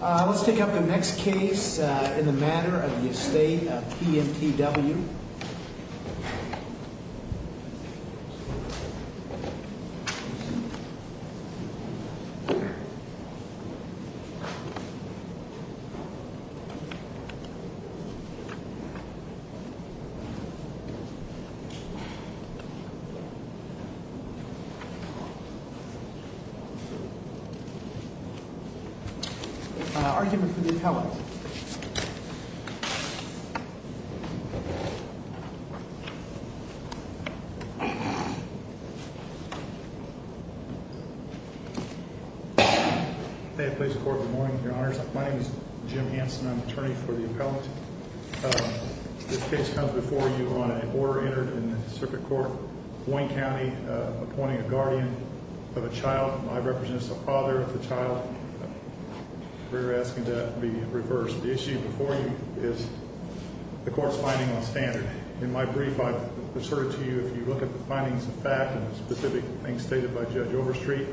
Let's take up the next case in the matter of the estate of P.M.T.W. Argument for the appellant. May it please the court, good morning, your honors. My name is Jim Hanson. I'm the attorney for the appellant. This case comes before you on an order entered in the circuit court, Wayne County, appointing a guardian of a child. I represent the father of the child. We're asking that it be reversed. The issue before you is the court's finding on standard. In my brief, I've asserted to you if you look at the findings of fact and the specific things stated by Judge Overstreet,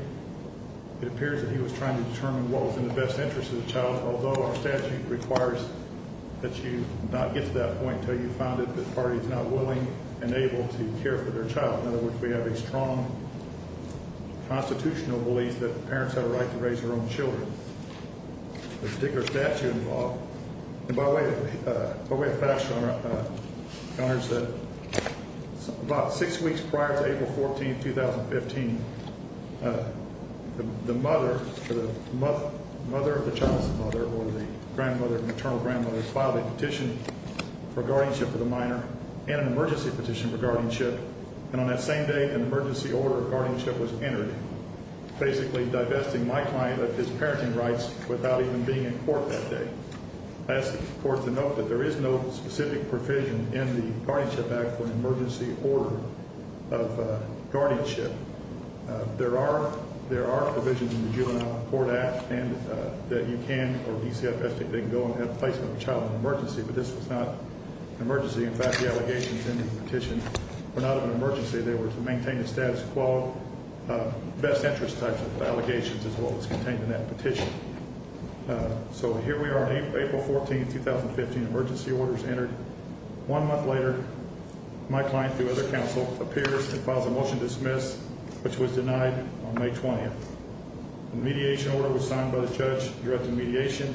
it appears that he was trying to determine what was in the best interest of the child, although our statute requires that you not get to that point until you've found it that the party is not willing and able to care for their child. In other words, we have a strong constitutional belief that parents have a right to raise their own children. The particular statute involved, and by way of fashion, your honors, that about six weeks prior to April 14, 2015, the mother or the mother of the child's mother or the grandmother or maternal grandmother filed a petition for guardianship of the minor and an emergency petition for guardianship, and on that same day, an emergency order of guardianship was entered, basically divesting my client of his parenting rights without even being in court that day. I ask the court to note that there is no specific provision in the guardianship act for an emergency order of guardianship. There are provisions in the juvenile court act that you can, or DCFS, they can go and have placement of a child in an emergency, but this was not an emergency. In fact, the allegations in the petition were not of an emergency. They were to maintain the status quo, best interest types of allegations, as well as contained in that petition. So here we are on April 14, 2015, emergency orders entered. One month later, my client, through other counsel, appears and files a motion to dismiss, which was denied on May 20th. A mediation order was signed by the judge directing mediation,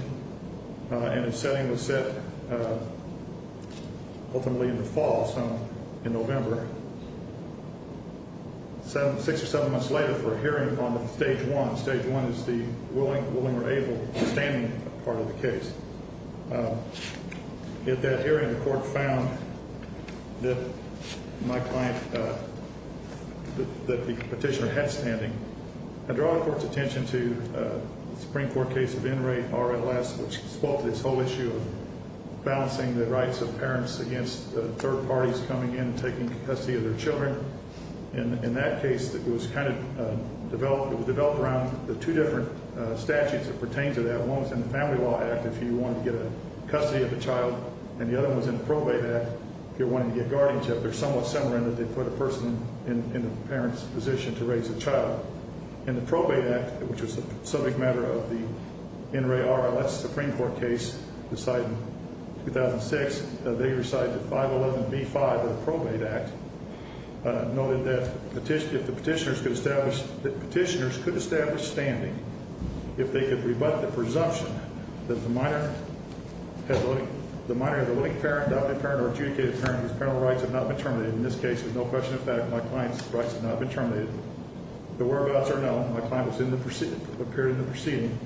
and a setting was set ultimately in the fall, so in November. Six or seven months later, for a hearing on stage one, stage one is the willing or able standing part of the case. At that hearing, the court found that my client, that the petitioner had standing. I draw the court's attention to the Supreme Court case of Enright RLS, which spoke to this whole issue of balancing the rights of parents against third parties coming in and taking custody of their children. In that case, it was kind of developed around the two different statutes that pertain to that. One was in the Family Law Act, if you wanted to get custody of a child, and the other one was in the Probate Act, if you wanted to get guardianship. They're somewhat similar in that they put a person in the parent's position to raise a child. In the Probate Act, which was a subject matter of the Enright RLS Supreme Court case decided in 2006, they decided that 511B5 of the Probate Act noted that petitioners could establish standing if they could rebut the presumption that the minor of the willing parent, adopted parent, or adjudicated parent whose parental rights have not been terminated. In this case, with no question of fact, my client's rights have not been terminated. The whereabouts are known. My client appeared in the proceeding.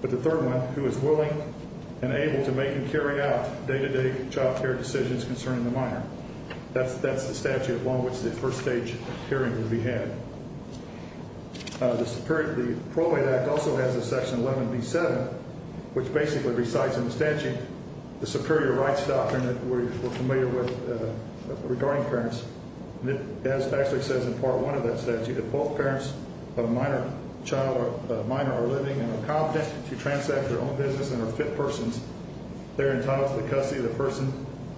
But the third one, who is willing and able to make and carry out day-to-day child care decisions concerning the minor, that's the statute along which the first stage hearing would be had. The Probate Act also has a section 11B7, which basically recites in the statute the Superior Rights Doctrine that we're familiar with regarding parents. It actually says in Part 1 of that statute, if both parents of a minor are living and are competent to transact their own business and are fit persons, they're entitled to the custody of the person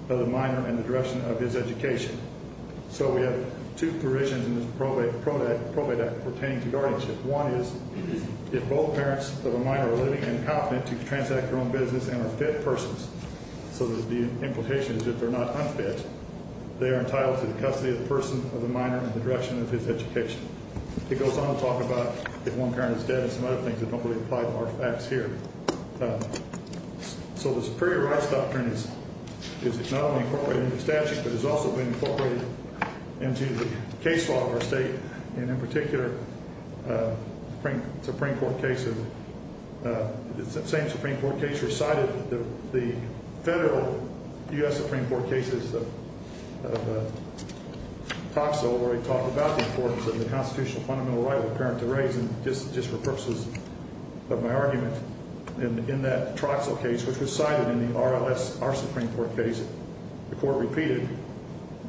of the minor and the direction of his education. So we have two provisions in this Probate Act pertaining to guardianship. One is if both parents of a minor are living and competent to transact their own business and are fit persons, so the implication is if they're not unfit, they are entitled to the custody of the person of the minor and the direction of his education. It goes on to talk about if one parent is dead and some other things that don't really apply to our facts here. So the Superior Rights Doctrine is not only incorporated in the statute, but has also been incorporated into the case law of our state, and in particular, Supreme Court cases. The same Supreme Court case recited the federal U.S. Supreme Court cases of Tocqueville where we talked about the importance of the constitutional fundamental right of the parent to raise, and just for purposes of my argument, in that Troxell case, which was cited in the RLS, our Supreme Court case, the court repeated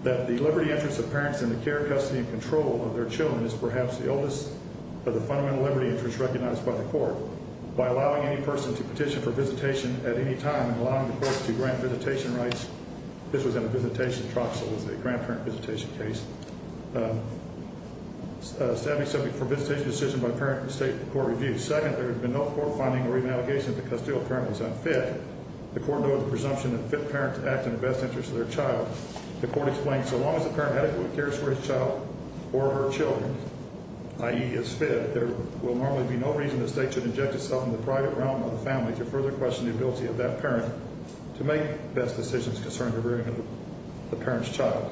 that the liberty interest of parents in the care, custody, and control of their children is perhaps the oldest of the fundamental liberty interests recognized by the court. By allowing any person to petition for visitation at any time and allowing the court to grant visitation rights, this was in a visitation, Troxell was a grandparent visitation case, a savvy subject for visitation decision by parent and state court review. Second, there had been no court finding or re-navigation that the custodial parent was unfit. The court noted the presumption that fit parents act in the best interest of their child. The court explained so long as the parent adequately cares for his child or her children, i.e., is fit, there will normally be no reason the state should inject itself in the private realm of the family to further question the ability of that parent to make best decisions concerning the rearing of the parent's child.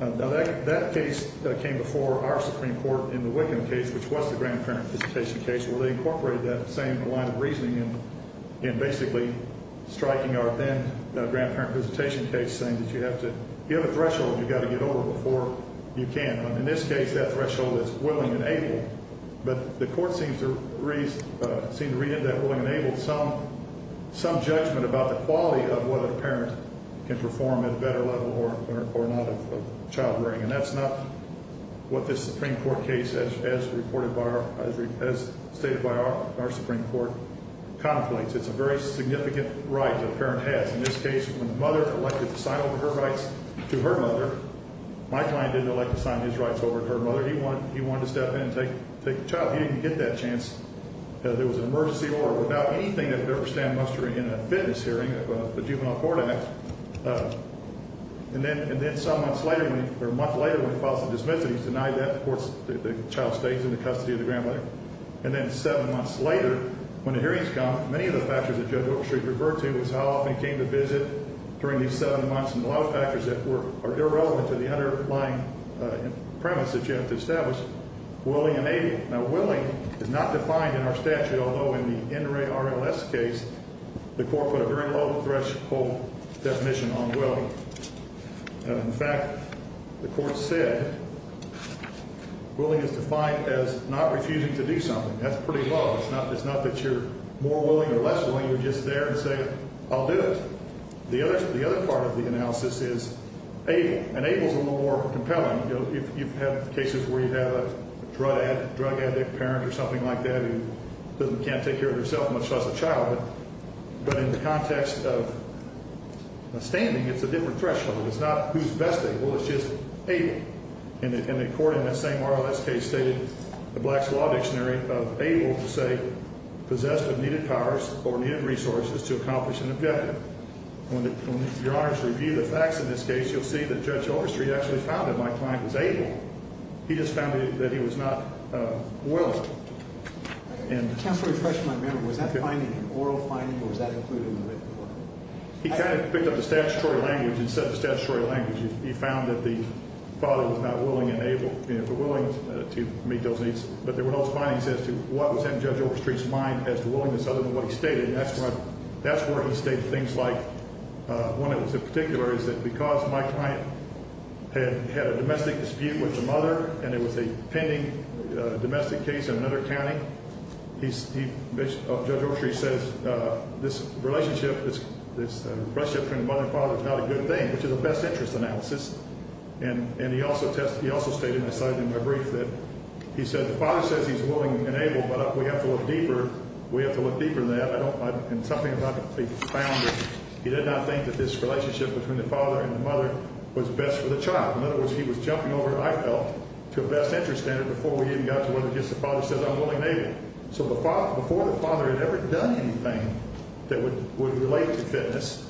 Now, that case came before our Supreme Court in the Wickham case, which was the grandparent visitation case, where they incorporated that same line of reasoning in basically striking our then grandparent visitation case, saying that you have to give a threshold you've got to get over before you can. In this case, that threshold is willing and able. But the court seemed to read into that willing and able some judgment about the quality of what a parent can perform at a better level or not of child rearing, and that's not what this Supreme Court case, as stated by our Supreme Court, conflates. It's a very significant right that a parent has. In this case, when the mother elected to sign over her rights to her mother, my client didn't elect to sign his rights over to her mother. He wanted to step in and take the child. He didn't get that chance. There was an emergency order without anything that would ever stand muster in a fitness hearing of the Juvenile Court Act. And then some months later, or a month later, when he filed his dismissal, he was denied that. Of course, the child stays in the custody of the grandmother. And then seven months later, when the hearing's gone, many of the factors that Judge Oakstreet referred to was how often he came to visit during these seven months, and a lot of factors that are irrelevant to the underlying premise that you have to establish, willing and able. Now, willing is not defined in our statute, although in the NRA RLS case, the court put a very low threshold definition on willing. In fact, the court said willing is defined as not refusing to do something. That's pretty low. It's not that you're more willing or less willing. You're just there to say, I'll do it. The other part of the analysis is able. And able's a little more compelling. You know, you've had cases where you have a drug addict parent or something like that who can't take care of herself, much less a child. But in the context of standing, it's a different threshold. It's not who's best able, it's just able. And the court in that same RLS case stated the Blacks' Law Dictionary of able to say, possessed of needed powers or needed resources to accomplish an objective. When you're asked to review the facts in this case, you'll see that Judge Overstreet actually found that my client was able. He just found that he was not willing. Counsel, refresh my memory. Was that finding an oral finding or was that included in the written court? He kind of picked up the statutory language and said the statutory language. He found that the father was not willing and able, you know, willing to meet those needs. But there were those findings as to what was in Judge Overstreet's mind as to willingness other than what he stated. That's where he stated things like, one that was in particular, is that because my client had had a domestic dispute with the mother and it was a pending domestic case in another county, Judge Overstreet says this relationship, this relationship between the mother and father is not a good thing, which is a best interest analysis. And he also stated, and I cited in my brief, that he said the father says he's willing and able, but we have to look deeper. We have to look deeper than that. And something about the founder, he did not think that this relationship between the father and the mother was best for the child. In other words, he was jumping over, I felt, to a best interest standard before we even got to where the father says I'm willing and able. So before the father had ever done anything that would relate to fitness,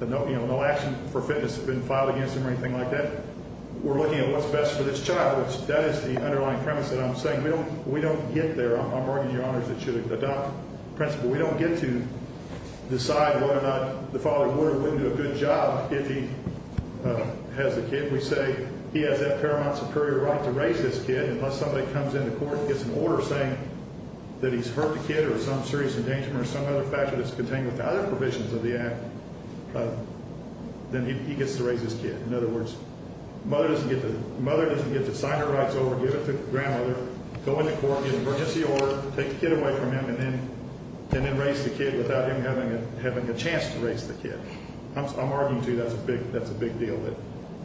you know, no action for fitness had been filed against him or anything like that, we're looking at what's best for this child, which that is the underlying premise that I'm saying. We don't get there. I'm arguing, Your Honors, that should adopt principle. We don't get to decide whether or not the father would or wouldn't do a good job if he has the kid. We say he has that paramount superior right to raise this kid, and unless somebody comes into court and gets an order saying that he's hurt the kid or some serious endangerment or some other factor that's contained with the other provisions of the act, then he gets to raise this kid. In other words, the mother doesn't get to sign her rights over, give it to the grandmother, go into court, get an emergency order, take the kid away from him, and then raise the kid without him having a chance to raise the kid. I'm arguing, too, that's a big deal.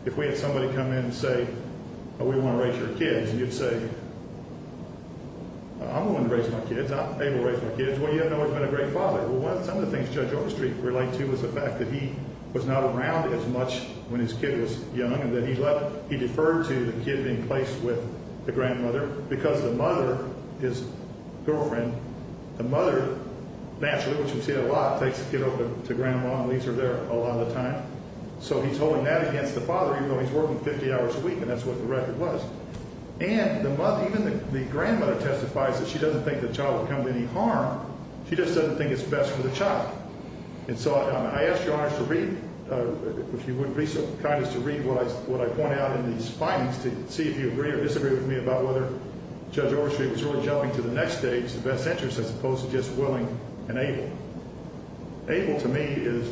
If we had somebody come in and say, oh, we want to raise your kids, and you'd say, I'm willing to raise my kids, I'm able to raise my kids. Well, you don't know he's been a great father. Well, some of the things Judge Overstreet related to was the fact that he was not around as much when his kid was young and that he deferred to the kid being placed with the grandmother because the mother, his girlfriend, the mother naturally, which we see a lot, takes the kid over to Grandma and leaves her there a lot of the time. So he's holding that against the father even though he's working 50 hours a week, and that's what the record was. And the mother, even the grandmother testifies that she doesn't think the child would come to any harm. She just doesn't think it's best for the child. And so I ask Your Honor to read, if you wouldn't be so kind as to read what I point out in these findings to see if you agree or disagree with me about whether Judge Overstreet was really jumping to the next stage, the best interest, as opposed to just willing and able. Able to me is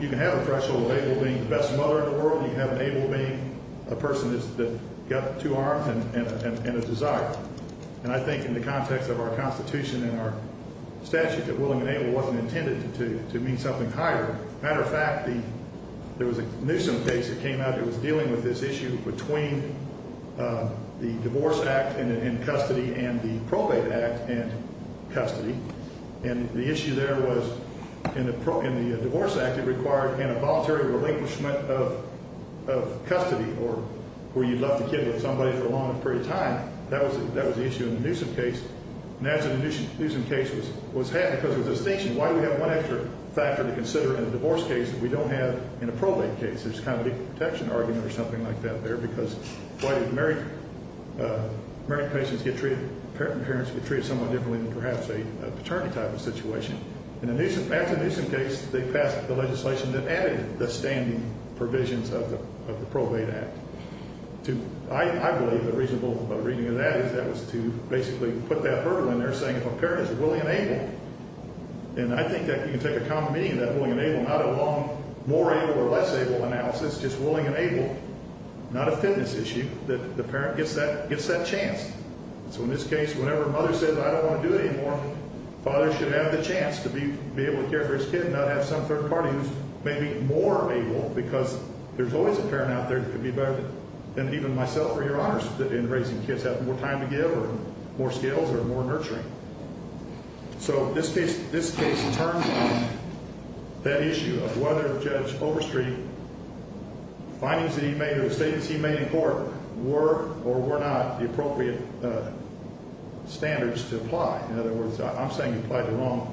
you can have a threshold of able being the best mother in the world. You can have an able being a person that's got two arms and a desire. And I think in the context of our Constitution and our statute that willing and able wasn't intended to mean something higher. Matter of fact, there was a Newsom case that came out that was dealing with this issue between the Divorce Act in custody and the Probate Act in custody, and the issue there was in the Divorce Act it required an involuntary relinquishment of custody or where you left the kid with somebody for a long period of time. That was the issue in the Newsom case. And as the Newsom case was happening, because there was a distinction, why do we have one extra factor to consider in a divorce case that we don't have in a probate case? There's kind of a legal protection argument or something like that there, because why do married patients get treated, parent and parents get treated somewhat differently than perhaps a paternity type of situation? And after the Newsom case, they passed the legislation that added the standing provisions of the Probate Act. I believe the reasonable reading of that is that was to basically put that hurdle in there saying if a parent is willing and able, and I think that you can take a common meaning of that, willing and able, not a long more able or less able analysis, just willing and able, not a fitness issue, that the parent gets that chance. So in this case, whenever a mother says, I don't want to do it anymore, the father should have the chance to be able to care for his kid and not have some third party who's maybe more able, because there's always a parent out there that could be better than even myself or Your Honors in raising kids, have more time to give or more skills or more nurturing. So this case turns on that issue of whether Judge Overstreet, the findings that he made or the statements he made in court were or were not the appropriate standards to apply. In other words, I'm saying he applied the wrong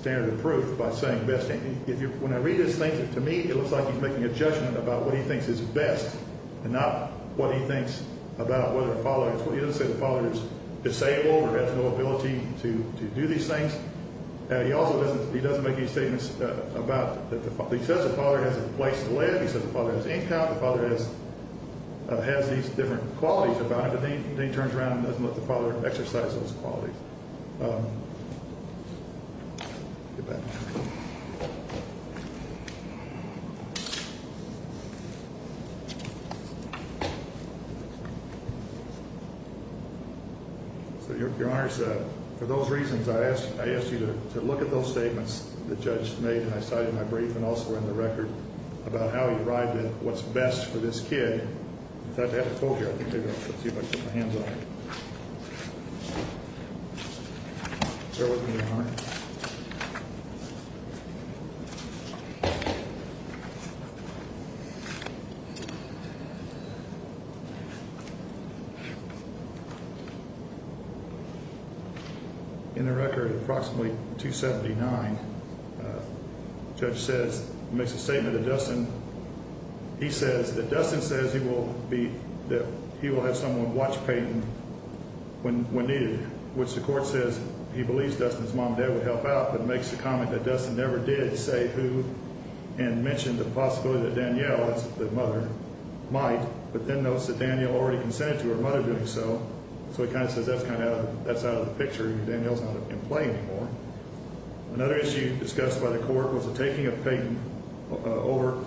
standard of proof by saying best. When I read this thing, to me, it looks like he's making a judgment about what he thinks is best and not what he thinks about whether a father, he doesn't say the father is disabled or has no ability to do these things. He also doesn't, he doesn't make any statements about, he says the father has a place to live, he says the father has income, the father has these different qualities about him, but then he turns around and doesn't let the father exercise those qualities. So Your Honors, for those reasons, I asked you to look at those statements the judge made, and I cited my brief and also in the record about how he arrived at what's best for this kid. I have a quote here. Let's see if I can get my hands on it. Fair work to you, Your Honor. In the record approximately 279, the judge says, makes a statement to Dustin. He says that Dustin says he will be, that he will have someone watch Peyton when needed, which the court says he believes Dustin's mom and dad would help out, but makes the comment that Dustin never did say who and mentioned the possibility that Danielle, that's the mother, might, but then notes that Danielle already consented to her mother doing so, so he kind of says that's kind of out of, that's out of the picture. Danielle's not in play anymore. Another issue discussed by the court was the taking of Peyton over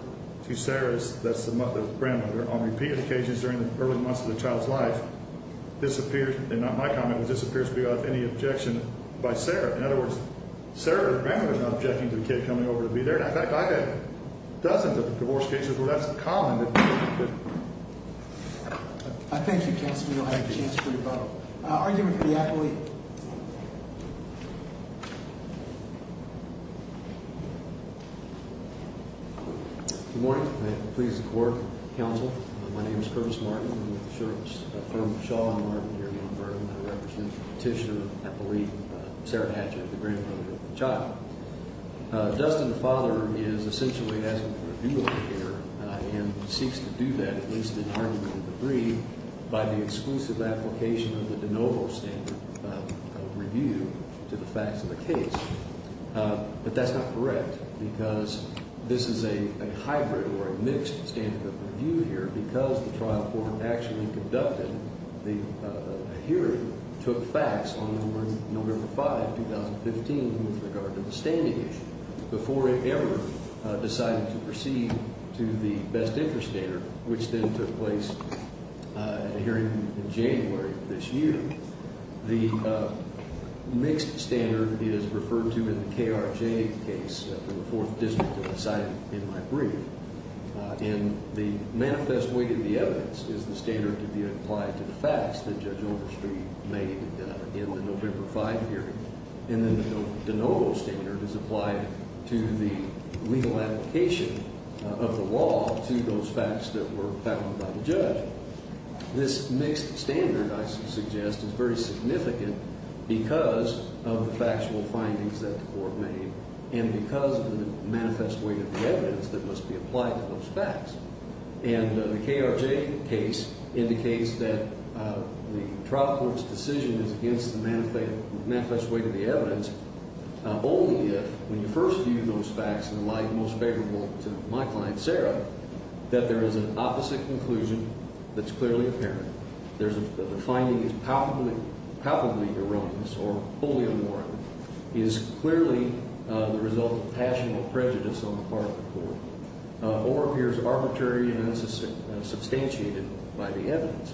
to Sarah's, that's the grandmother, on repeated occasions during the early months of the child's life disappeared, and not my comment, but disappears without any objection by Sarah. In other words, Sarah, the grandmother, is not objecting to the kid coming over to be there. In fact, I've had dozens of divorce cases where that's a common. Thank you, Counselor Neal. I have a chance for your vote. I'll argue with the appellee. Good morning. I'm pleased to court, counsel. My name is Curtis Martin. I'm with the Sheriffs' firm, Shaw & Martin, here in Yonge-Burton. I represent the petitioner, I believe, Sarah Hatchett, the grandmother of the child. Dustin, the father, is essentially asking for a duel here and seeks to do that, at least in argument of the brief, by the exclusive application of the de novo standard of review to the facts of the case. But that's not correct because this is a hybrid or a mixed standard of review here because the trial court actually conducted the hearing, took facts on November 5, 2015, with regard to the standing issue before it ever decided to proceed to the best interest data, which then took place at a hearing in January of this year. The mixed standard is referred to in the KRJ case from the Fourth District that was cited in my brief. And the manifest way to the evidence is the standard to be applied to the facts that Judge Overstreet made in the November 5 hearing. And then the de novo standard is applied to the legal application of the law to those facts that were found by the judge. This mixed standard, I suggest, is very significant because of the factual findings that the court made and because of the manifest way to the evidence that must be applied to those facts. And the KRJ case indicates that the trial court's decision is against the manifest way to the evidence only if, when you first view those facts in the light most favorable to my client, Sarah, that there is an opposite conclusion that's clearly apparent, that the finding is palpably erroneous or wholly unwarranted, is clearly the result of passion or prejudice on the part of the court, or appears arbitrary and unsubstantiated by the evidence.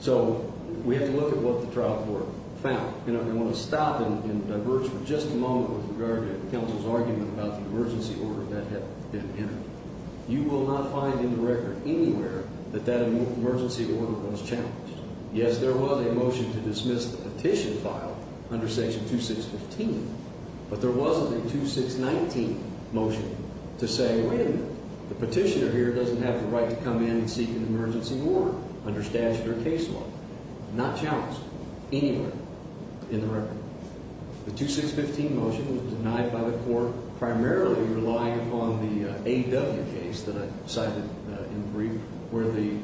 So we have to look at what the trial court found. And I want to stop and diverge for just a moment with regard to counsel's argument about the emergency order that had been entered. You will not find in the record anywhere that that emergency order was challenged. Yes, there was a motion to dismiss the petition file under Section 2615, but there wasn't a 2619 motion to say, wait a minute, the petitioner here doesn't have the right to come in and seek an emergency order under statute or case law. Not challenged anywhere in the record. The 2615 motion was denied by the court, primarily relying upon the AW case that I cited in brief, where the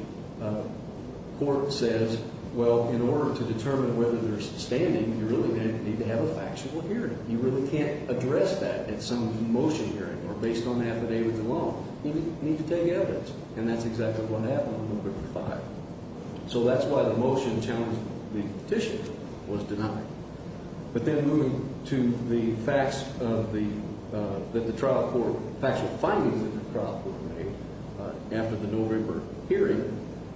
court says, well, in order to determine whether there's standing, you really need to have a factual hearing. You really can't address that at some motion hearing or based on affidavit alone. You need to take evidence. And that's exactly what happened on November 5th. So that's why the motion challenging the petition was denied. But then moving to the facts of the trial court, factual findings that the trial court made after the November hearing,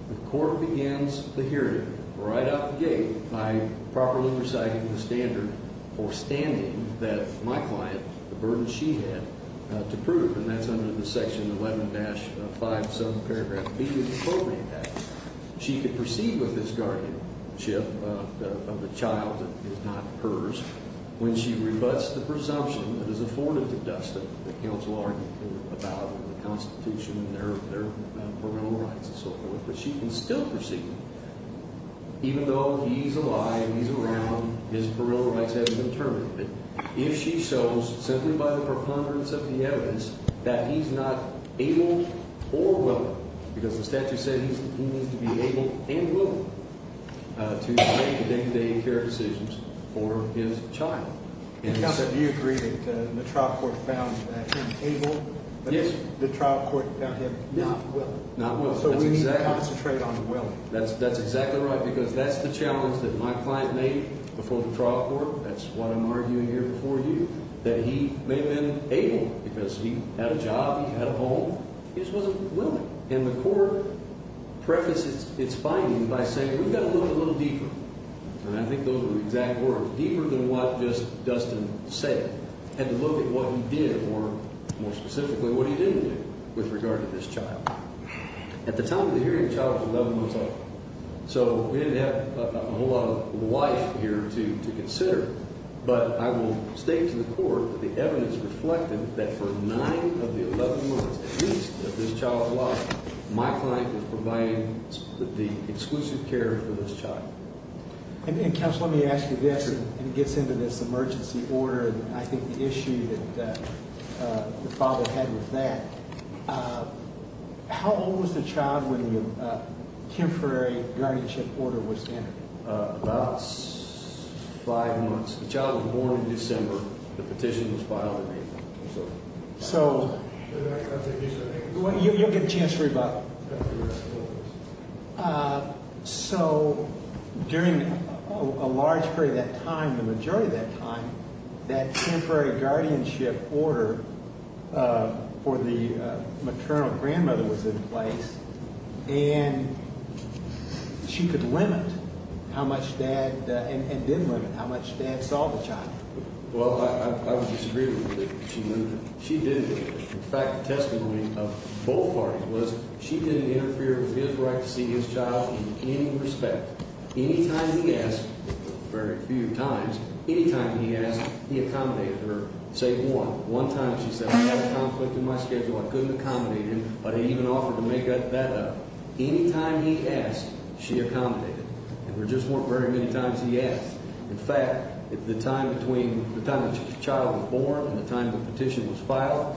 the court begins the hearing right out the gate by properly reciting the standard for standing that my client, the burden she had to prove, and that's under the Section 11-5 subparagraph B of the program act. She could proceed with this guardianship of the child that is not hers when she rebuts the presumption that is afforded to Dustin. The counsel argued about the Constitution and their parental rights and so forth. But she can still proceed with that, even though he's alive, he's around, his parental rights haven't been terminated. If she shows, simply by the preponderance of the evidence, that he's not able or willing, because the statute said he needs to be able and willing to make the day-to-day care decisions for his child. Counsel, do you agree that the trial court found him able? Yes. The trial court found him not willing. Not willing. So we need to concentrate on willing. That's exactly right because that's the challenge that my client made before the trial court. That's what I'm arguing here before you. That he may have been able because he had a job, he had a home. He just wasn't willing. And the court prefaces its finding by saying we've got to look a little deeper. And I think those are the exact words. Deeper than what just Dustin said. Had to look at what he did or, more specifically, what he didn't do with regard to this child. At the time of the hearing, the child was 11 months old. So we didn't have a whole lot of life here to consider. But I will state to the court that the evidence reflected that for nine of the 11 months at least of this child's life, my client was providing the exclusive care for this child. Counsel, let me ask you this. It gets into this emergency order and I think the issue that the father had with that. How old was the child when the temporary guardianship order was in? About five months. The child was born in December. The petition was filed in April. So you'll get a chance to read about it. So during a large period of that time, the majority of that time, that temporary guardianship order for the maternal grandmother was in place and she could limit how much dad and didn't limit how much dad saw the child. Well, I would disagree with you. She didn't. In fact, the testimony of both parties was she didn't interfere with his right to see his child in any respect. Any time he asked, very few times, any time he asked, he accommodated her. Say one. One time she said, I had a conflict in my schedule. I couldn't accommodate him, but he even offered to make that up. Any time he asked, she accommodated. There just weren't very many times he asked. In fact, the time between the time the child was born and the time the petition was filed,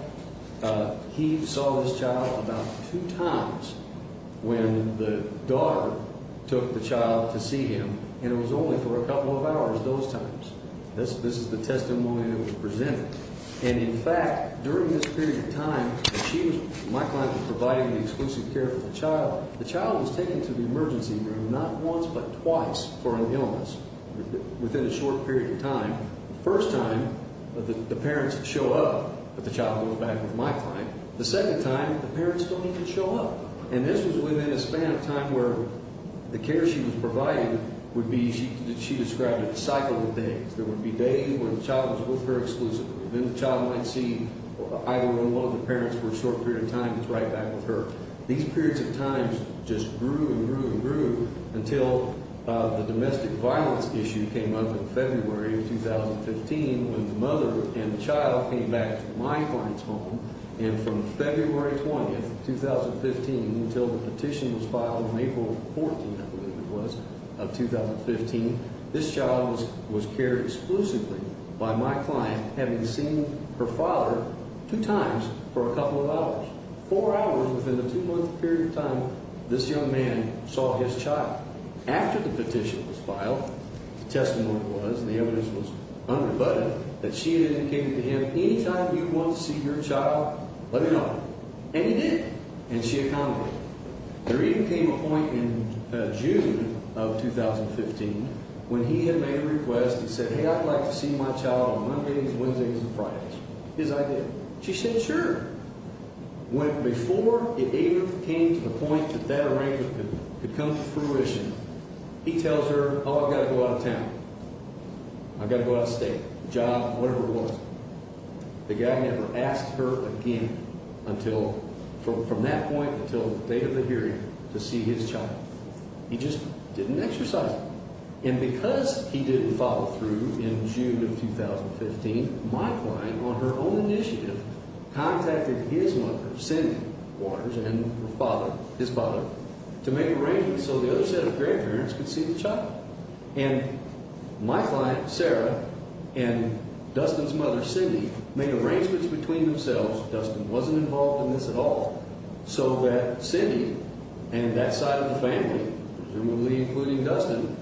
he saw this child about two times when the daughter took the child to see him, and it was only for a couple of hours those times. This is the testimony that was presented. And, in fact, during this period of time, my client was providing the exclusive care for the child. The child was taken to the emergency room not once but twice for an illness within a short period of time. The first time, the parents show up, but the child goes back with my client. The second time, the parents don't even show up. And this was within a span of time where the care she was providing would be, she described it, a cycle of days. There would be days when the child was with her exclusively. Then the child might see either one of the parents for a short period of time gets right back with her. These periods of time just grew and grew and grew until the domestic violence issue came up in February of 2015 when the mother and the child came back to my client's home. And from February 20th, 2015, until the petition was filed on April 14th, I believe it was, of 2015, this child was cared exclusively by my client, having seen her father two times for a couple of hours. Four hours within a two-month period of time, this young man saw his child. After the petition was filed, the testimony was, and the evidence was unrebutted, that she had indicated to him, anytime you'd want to see your child, let me know. And he did. And she accommodated. There even came a point in June of 2015 when he had made a request and said, hey, I'd like to see my child on Mondays, Wednesdays, and Fridays. His idea. She said, sure. Before it even came to the point that that arrangement could come to fruition, he tells her, oh, I've got to go out of town. I've got to go out of state, job, whatever it was. The guy never asked her again from that point until the date of the hearing to see his child. He just didn't exercise it. And because he didn't follow through in June of 2015, my client, on her own initiative, contacted his mother, Cindy Waters, and her father, his father, to make arrangements so the other set of grandparents could see the child. And my client, Sarah, and Dustin's mother, Cindy, made arrangements between themselves. Dustin wasn't involved in this at all. So that Cindy and that side of the family, presumably including Dustin,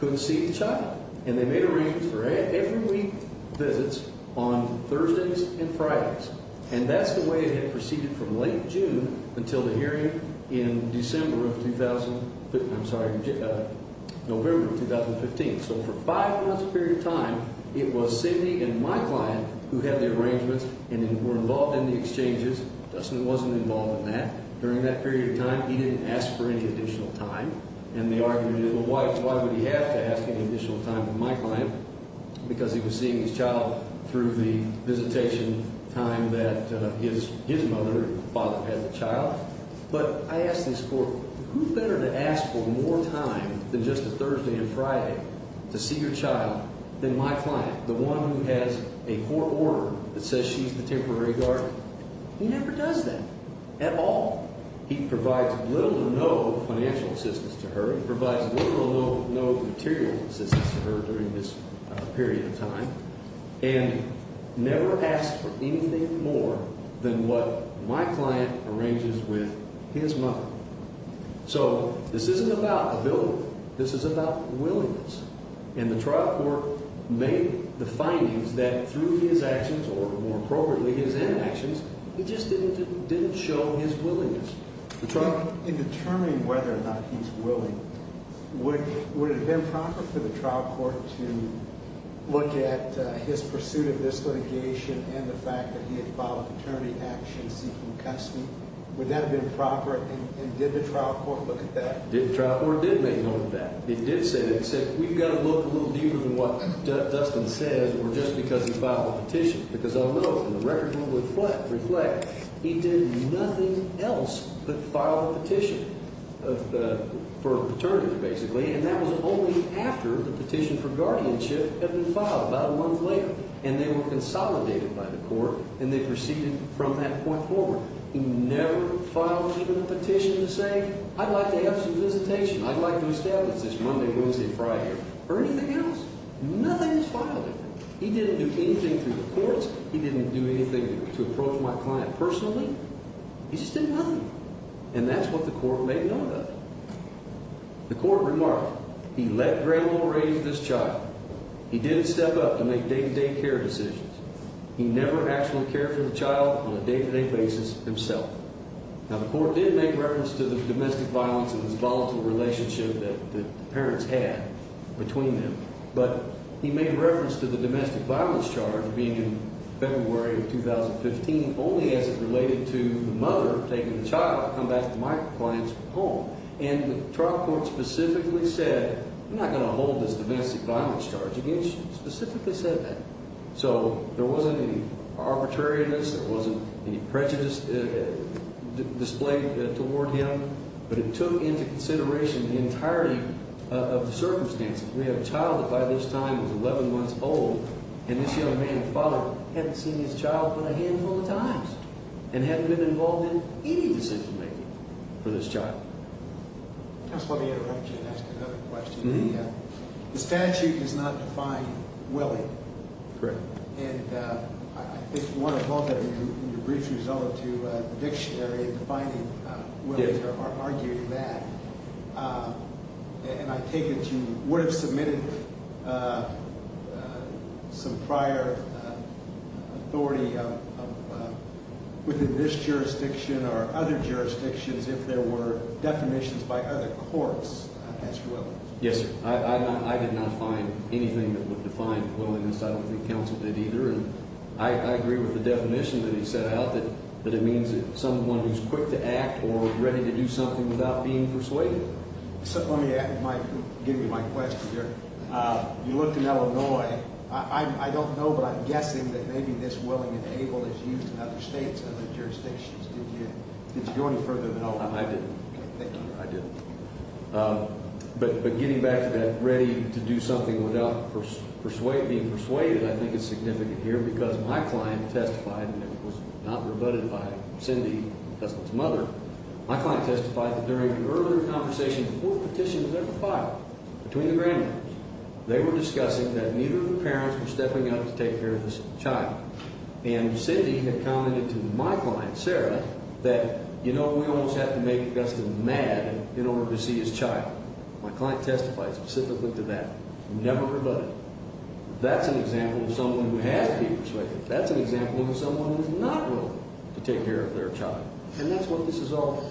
couldn't see the child. And they made arrangements for every week visits on Thursdays and Fridays. And that's the way it had proceeded from late June until the hearing in November of 2015. So for five months' period of time, it was Cindy and my client who had the arrangements and were involved in the exchanges. Dustin wasn't involved in that. During that period of time, he didn't ask for any additional time. And the argument is, well, why would he have to ask any additional time from my client? Because he was seeing his child through the visitation time that his mother and father had the child. But I ask this court, who better to ask for more time than just a Thursday and Friday to see your child than my client, the one who has a court order that says she's the temporary guardian? He never does that at all. He provides little or no financial assistance to her. He provides little or no material assistance to her during this period of time. And never asks for anything more than what my client arranges with his mother. So this isn't about ability. This is about willingness. And the trial court made the findings that through his actions, or more appropriately, his actions, he just didn't show his willingness. In determining whether or not he's willing, would it have been proper for the trial court to look at his pursuit of this litigation and the fact that he had filed an attorney action seeking custody? Would that have been proper, and did the trial court look at that? The trial court did make note of that. It did say that it said we've got to look a little deeper than what Dustin said, or just because he filed a petition. Because I'll note, and the record will reflect, he did nothing else but file a petition for an attorney, basically. And that was only after the petition for guardianship had been filed about a month later. And they were consolidated by the court, and they proceeded from that point forward. He never filed even a petition to say, I'd like to have some visitation. I'd like to establish this Monday, Wednesday, Friday, or anything else. Nothing was filed. He didn't do anything through the courts. He didn't do anything to approach my client personally. He just did nothing. And that's what the court made note of. The court remarked, he let Grandma raise this child. He didn't step up to make day-to-day care decisions. He never actually cared for the child on a day-to-day basis himself. Now, the court did make reference to the domestic violence and this volatile relationship that the parents had between them. But he made reference to the domestic violence charge being in February of 2015 only as it related to the mother taking the child to come back to my client's home. And the trial court specifically said, I'm not going to hold this domestic violence charge against you. It specifically said that. So there wasn't any arbitrariness. There wasn't any prejudice displayed toward him. But it took into consideration the entirety of the circumstances. We have a child that by this time was 11 months old, and this young man's father hadn't seen his child but a handful of times and hadn't been involved in any decision-making for this child. Counsel, let me interrupt you and ask another question. The statute does not define Willie. Correct. And I think you want to hold that in your brief result to the dictionary defining Willie or arguing that. And I take it you would have submitted some prior authority within this jurisdiction or other jurisdictions if there were definitions by other courts as to Willie. Yes, sir. I did not find anything that would define Willie, and I don't think counsel did either. I agree with the definition that he set out, that it means someone who's quick to act or ready to do something without being persuaded. Let me give you my question here. You looked in Illinois. I don't know, but I'm guessing that maybe this Willie and Abel is used in other states, other jurisdictions. Did you go any further than that? No, I didn't. Thank you. I didn't. But getting back to that ready to do something without being persuaded I think is significant here because my client testified, and it was not rebutted by Cindy, Dustin's mother. My client testified that during an earlier conversation before the petition was ever filed between the grandmothers, they were discussing that neither of the parents were stepping up to take care of this child. And Cindy had commented to my client, Sarah, that, you know, we almost have to make Dustin mad in order to see his child. My client testified specifically to that. Never rebutted it. That's an example of someone who has to be persuaded. That's an example of someone who's not willing to take care of their child. And that's what this is all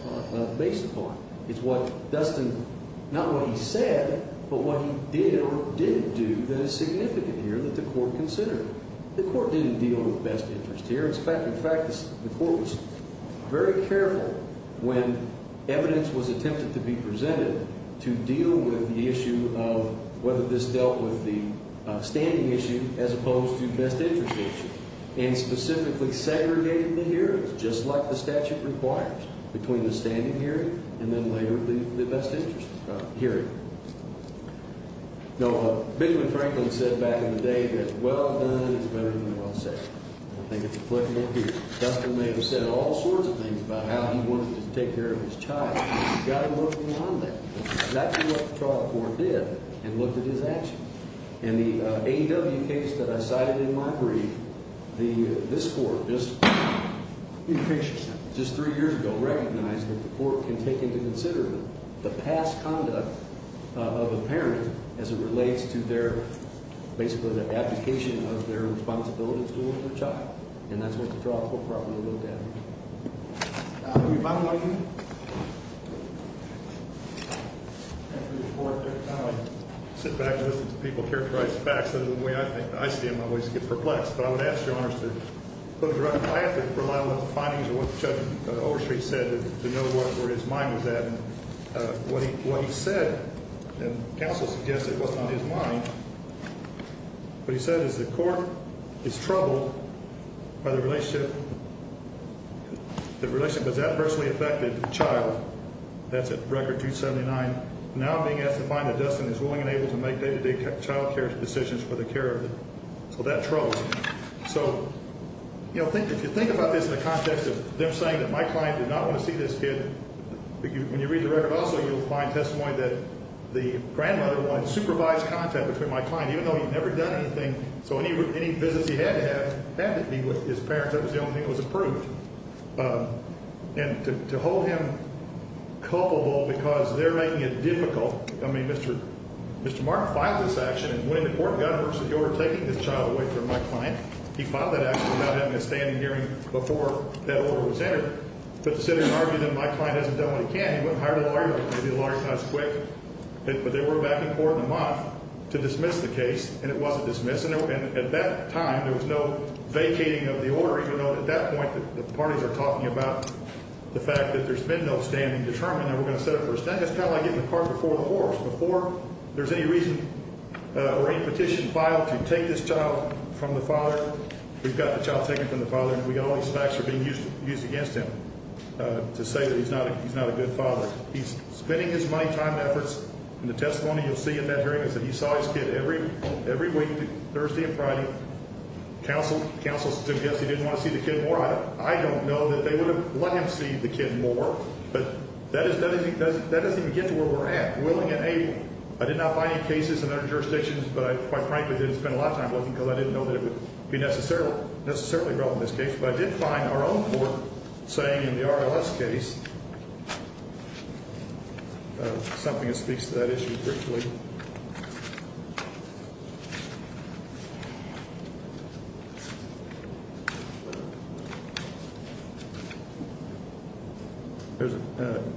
based upon. It's what Dustin, not what he said, but what he did or didn't do that is significant here that the court considered. The court didn't deal with best interest here. In fact, the court was very careful when evidence was attempted to be presented to deal with the issue of whether this dealt with the standing issue as opposed to best interest issue and specifically segregated the hearings just like the statute requires between the standing hearing and then later the best interest hearing. Now, Benjamin Franklin said back in the day that well done is better than well said. I think it's applicable here. Dustin may have said all sorts of things about how he wanted to take care of his child. He's got to move beyond that. That's what the trial court did and looked at his actions. In the AW case that I cited in my brief, this court just three years ago recognized that the court can take into consideration the past conduct of a parent as it relates to their basically the abdication of their responsibilities towards their child. And that's what the trial court probably looked at. Do we have time for one more? I sit back and listen to people characterize facts. That's the way I see them. I always get perplexed. But I would ask Your Honor to close your eyes and rely on the findings of what Judge Overstreet said to know where his mind was at. And what he said, and counsel suggested it wasn't on his mind, what he said is the court is troubled by the relationship that was adversely affected to the child. That's at Record 279. Now being asked to find that Dustin is willing and able to make day-to-day child care decisions for the care of the child. So that troubles me. So, you know, if you think about this in the context of them saying that my client did not want to see this kid. When you read the record also you'll find testimony that the grandmother wanted supervised contact between my client even though he'd never done anything. So any business he had to have, had to be with his parents. That was the only thing that was approved. And to hold him culpable because they're making it difficult. I mean, Mr. Martin filed this action in winning the court and got a versus the order taking this child away from my client. He filed that action without having a standing hearing before that order was entered. But the city argued that my client hasn't done what he can. He went and hired a lawyer, maybe a lawyer who's not as quick. But they were back in court in a month to dismiss the case and it wasn't dismissed. And at that time there was no vacating of the order even though at that point the parties are talking about the fact that there's been no standing determined that we're going to set up for a stand. That's kind of like getting the cart before the horse. Before there's any reason or any petition filed to take this child from the father. We've got the child taken from the father. We've got all these facts that are being used against him to say that he's not a good father. He's spending his money, time, efforts. And the testimony you'll see in that hearing is that he saw his kid every week, Thursday and Friday. Counsel suggested he didn't want to see the kid more. I don't know that they would have let him see the kid more. But that doesn't even get to where we're at. Willing and able. I did not find any cases in other jurisdictions, but I quite frankly didn't spend a lot of time looking because I didn't know that it would be necessarily relevant in this case. But I did find our own court saying in the RLS case. Something that speaks to that issue.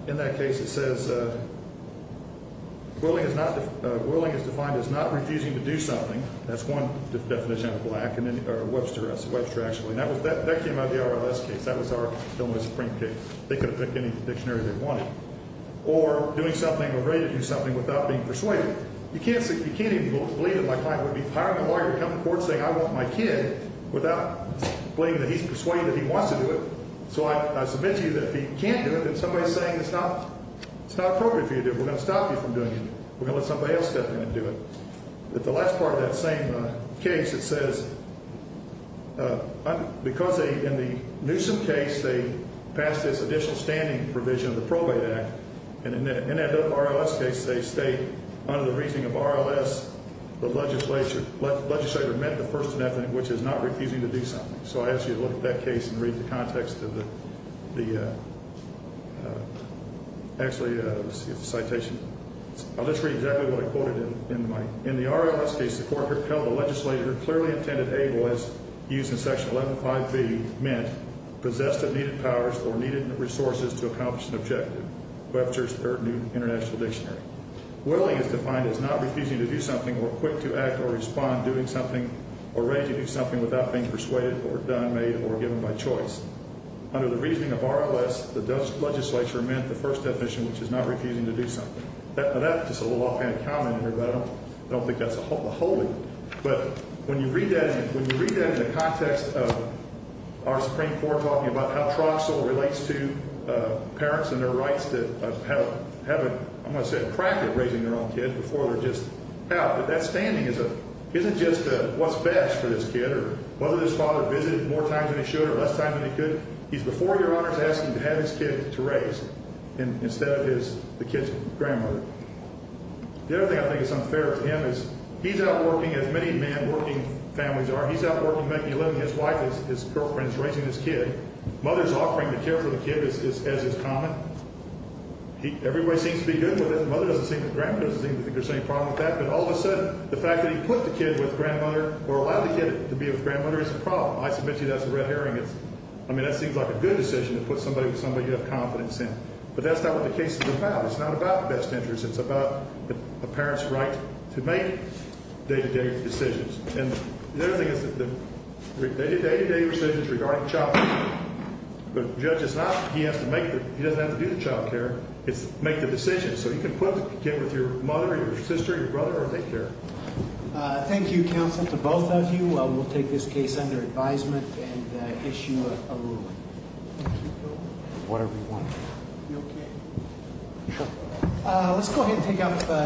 In that case, it says. Willing is defined as not refusing to do something. That's one definition of black and then Webster actually. And that came out of the RLS case. That was our Supreme Court case. They could have picked any dictionary they wanted. Or doing something or ready to do something without being persuaded. You can't even believe that my client would be hiring a lawyer to come to court saying I want my kid without believing that he's persuaded he wants to do it. So, I submit to you that he can't do it. And somebody saying it's not. It's not appropriate for you to do. We're going to stop you from doing it. We're going to let somebody else step in and do it. But the last part of that same case, it says. Because they in the Newsome case, they passed this additional standing provision of the probate act. And in that RLS case, they state under the reasoning of RLS. The legislature legislature meant the first method, which is not refusing to do something. So, I ask you to look at that case and read the context of the actually citation. I'll just read exactly what I quoted in the mic. In the RLS case, the court repelled the legislature clearly intended able as used in section 11.5B meant possessed of needed powers or needed resources to accomplish an objective. Webster's third new international dictionary. Willing is defined as not refusing to do something or quick to act or respond, doing something or ready to do something without being persuaded or done, made or given by choice. Under the reasoning of RLS, the legislature meant the first definition, which is not refusing to do something. That's just a little offhand comment here, but I don't think that's a wholly. But when you read that, when you read that in the context of our Supreme Court talking about how Troxel relates to parents and their rights to have a, I'm going to say, a practice raising their own kid before they're just out. But that standing isn't just what's best for this kid or whether this father visited more times than he should or less time than he could. He's before your honors asking to have his kid to raise instead of his the kid's grandmother. The other thing I think is unfair to him is he's out working as many man working families are. He's out working making a living. His wife is his girlfriend's raising his kid. Mother's offering to care for the kid as is common. Everybody seems to be good with it. Mother doesn't seem to think there's any problem with that. But all of a sudden, the fact that he put the kid with grandmother or allowed the kid to be with grandmother is a problem. I submit to you that's a red herring. I mean, that seems like a good decision to put somebody with somebody you have confidence in. But that's not what the case is about. It's not about the best interest. It's about a parent's right to make day-to-day decisions. And the other thing is that the day-to-day decisions regarding child care. The judge is not he has to make the he doesn't have to do the child care. It's make the decision. So you can put the kid with your mother, your sister, your brother, or they care. Thank you, counsel, to both of you. We'll take this case under advisement and issue a ruling. Whatever you want. Let's go ahead and take out the.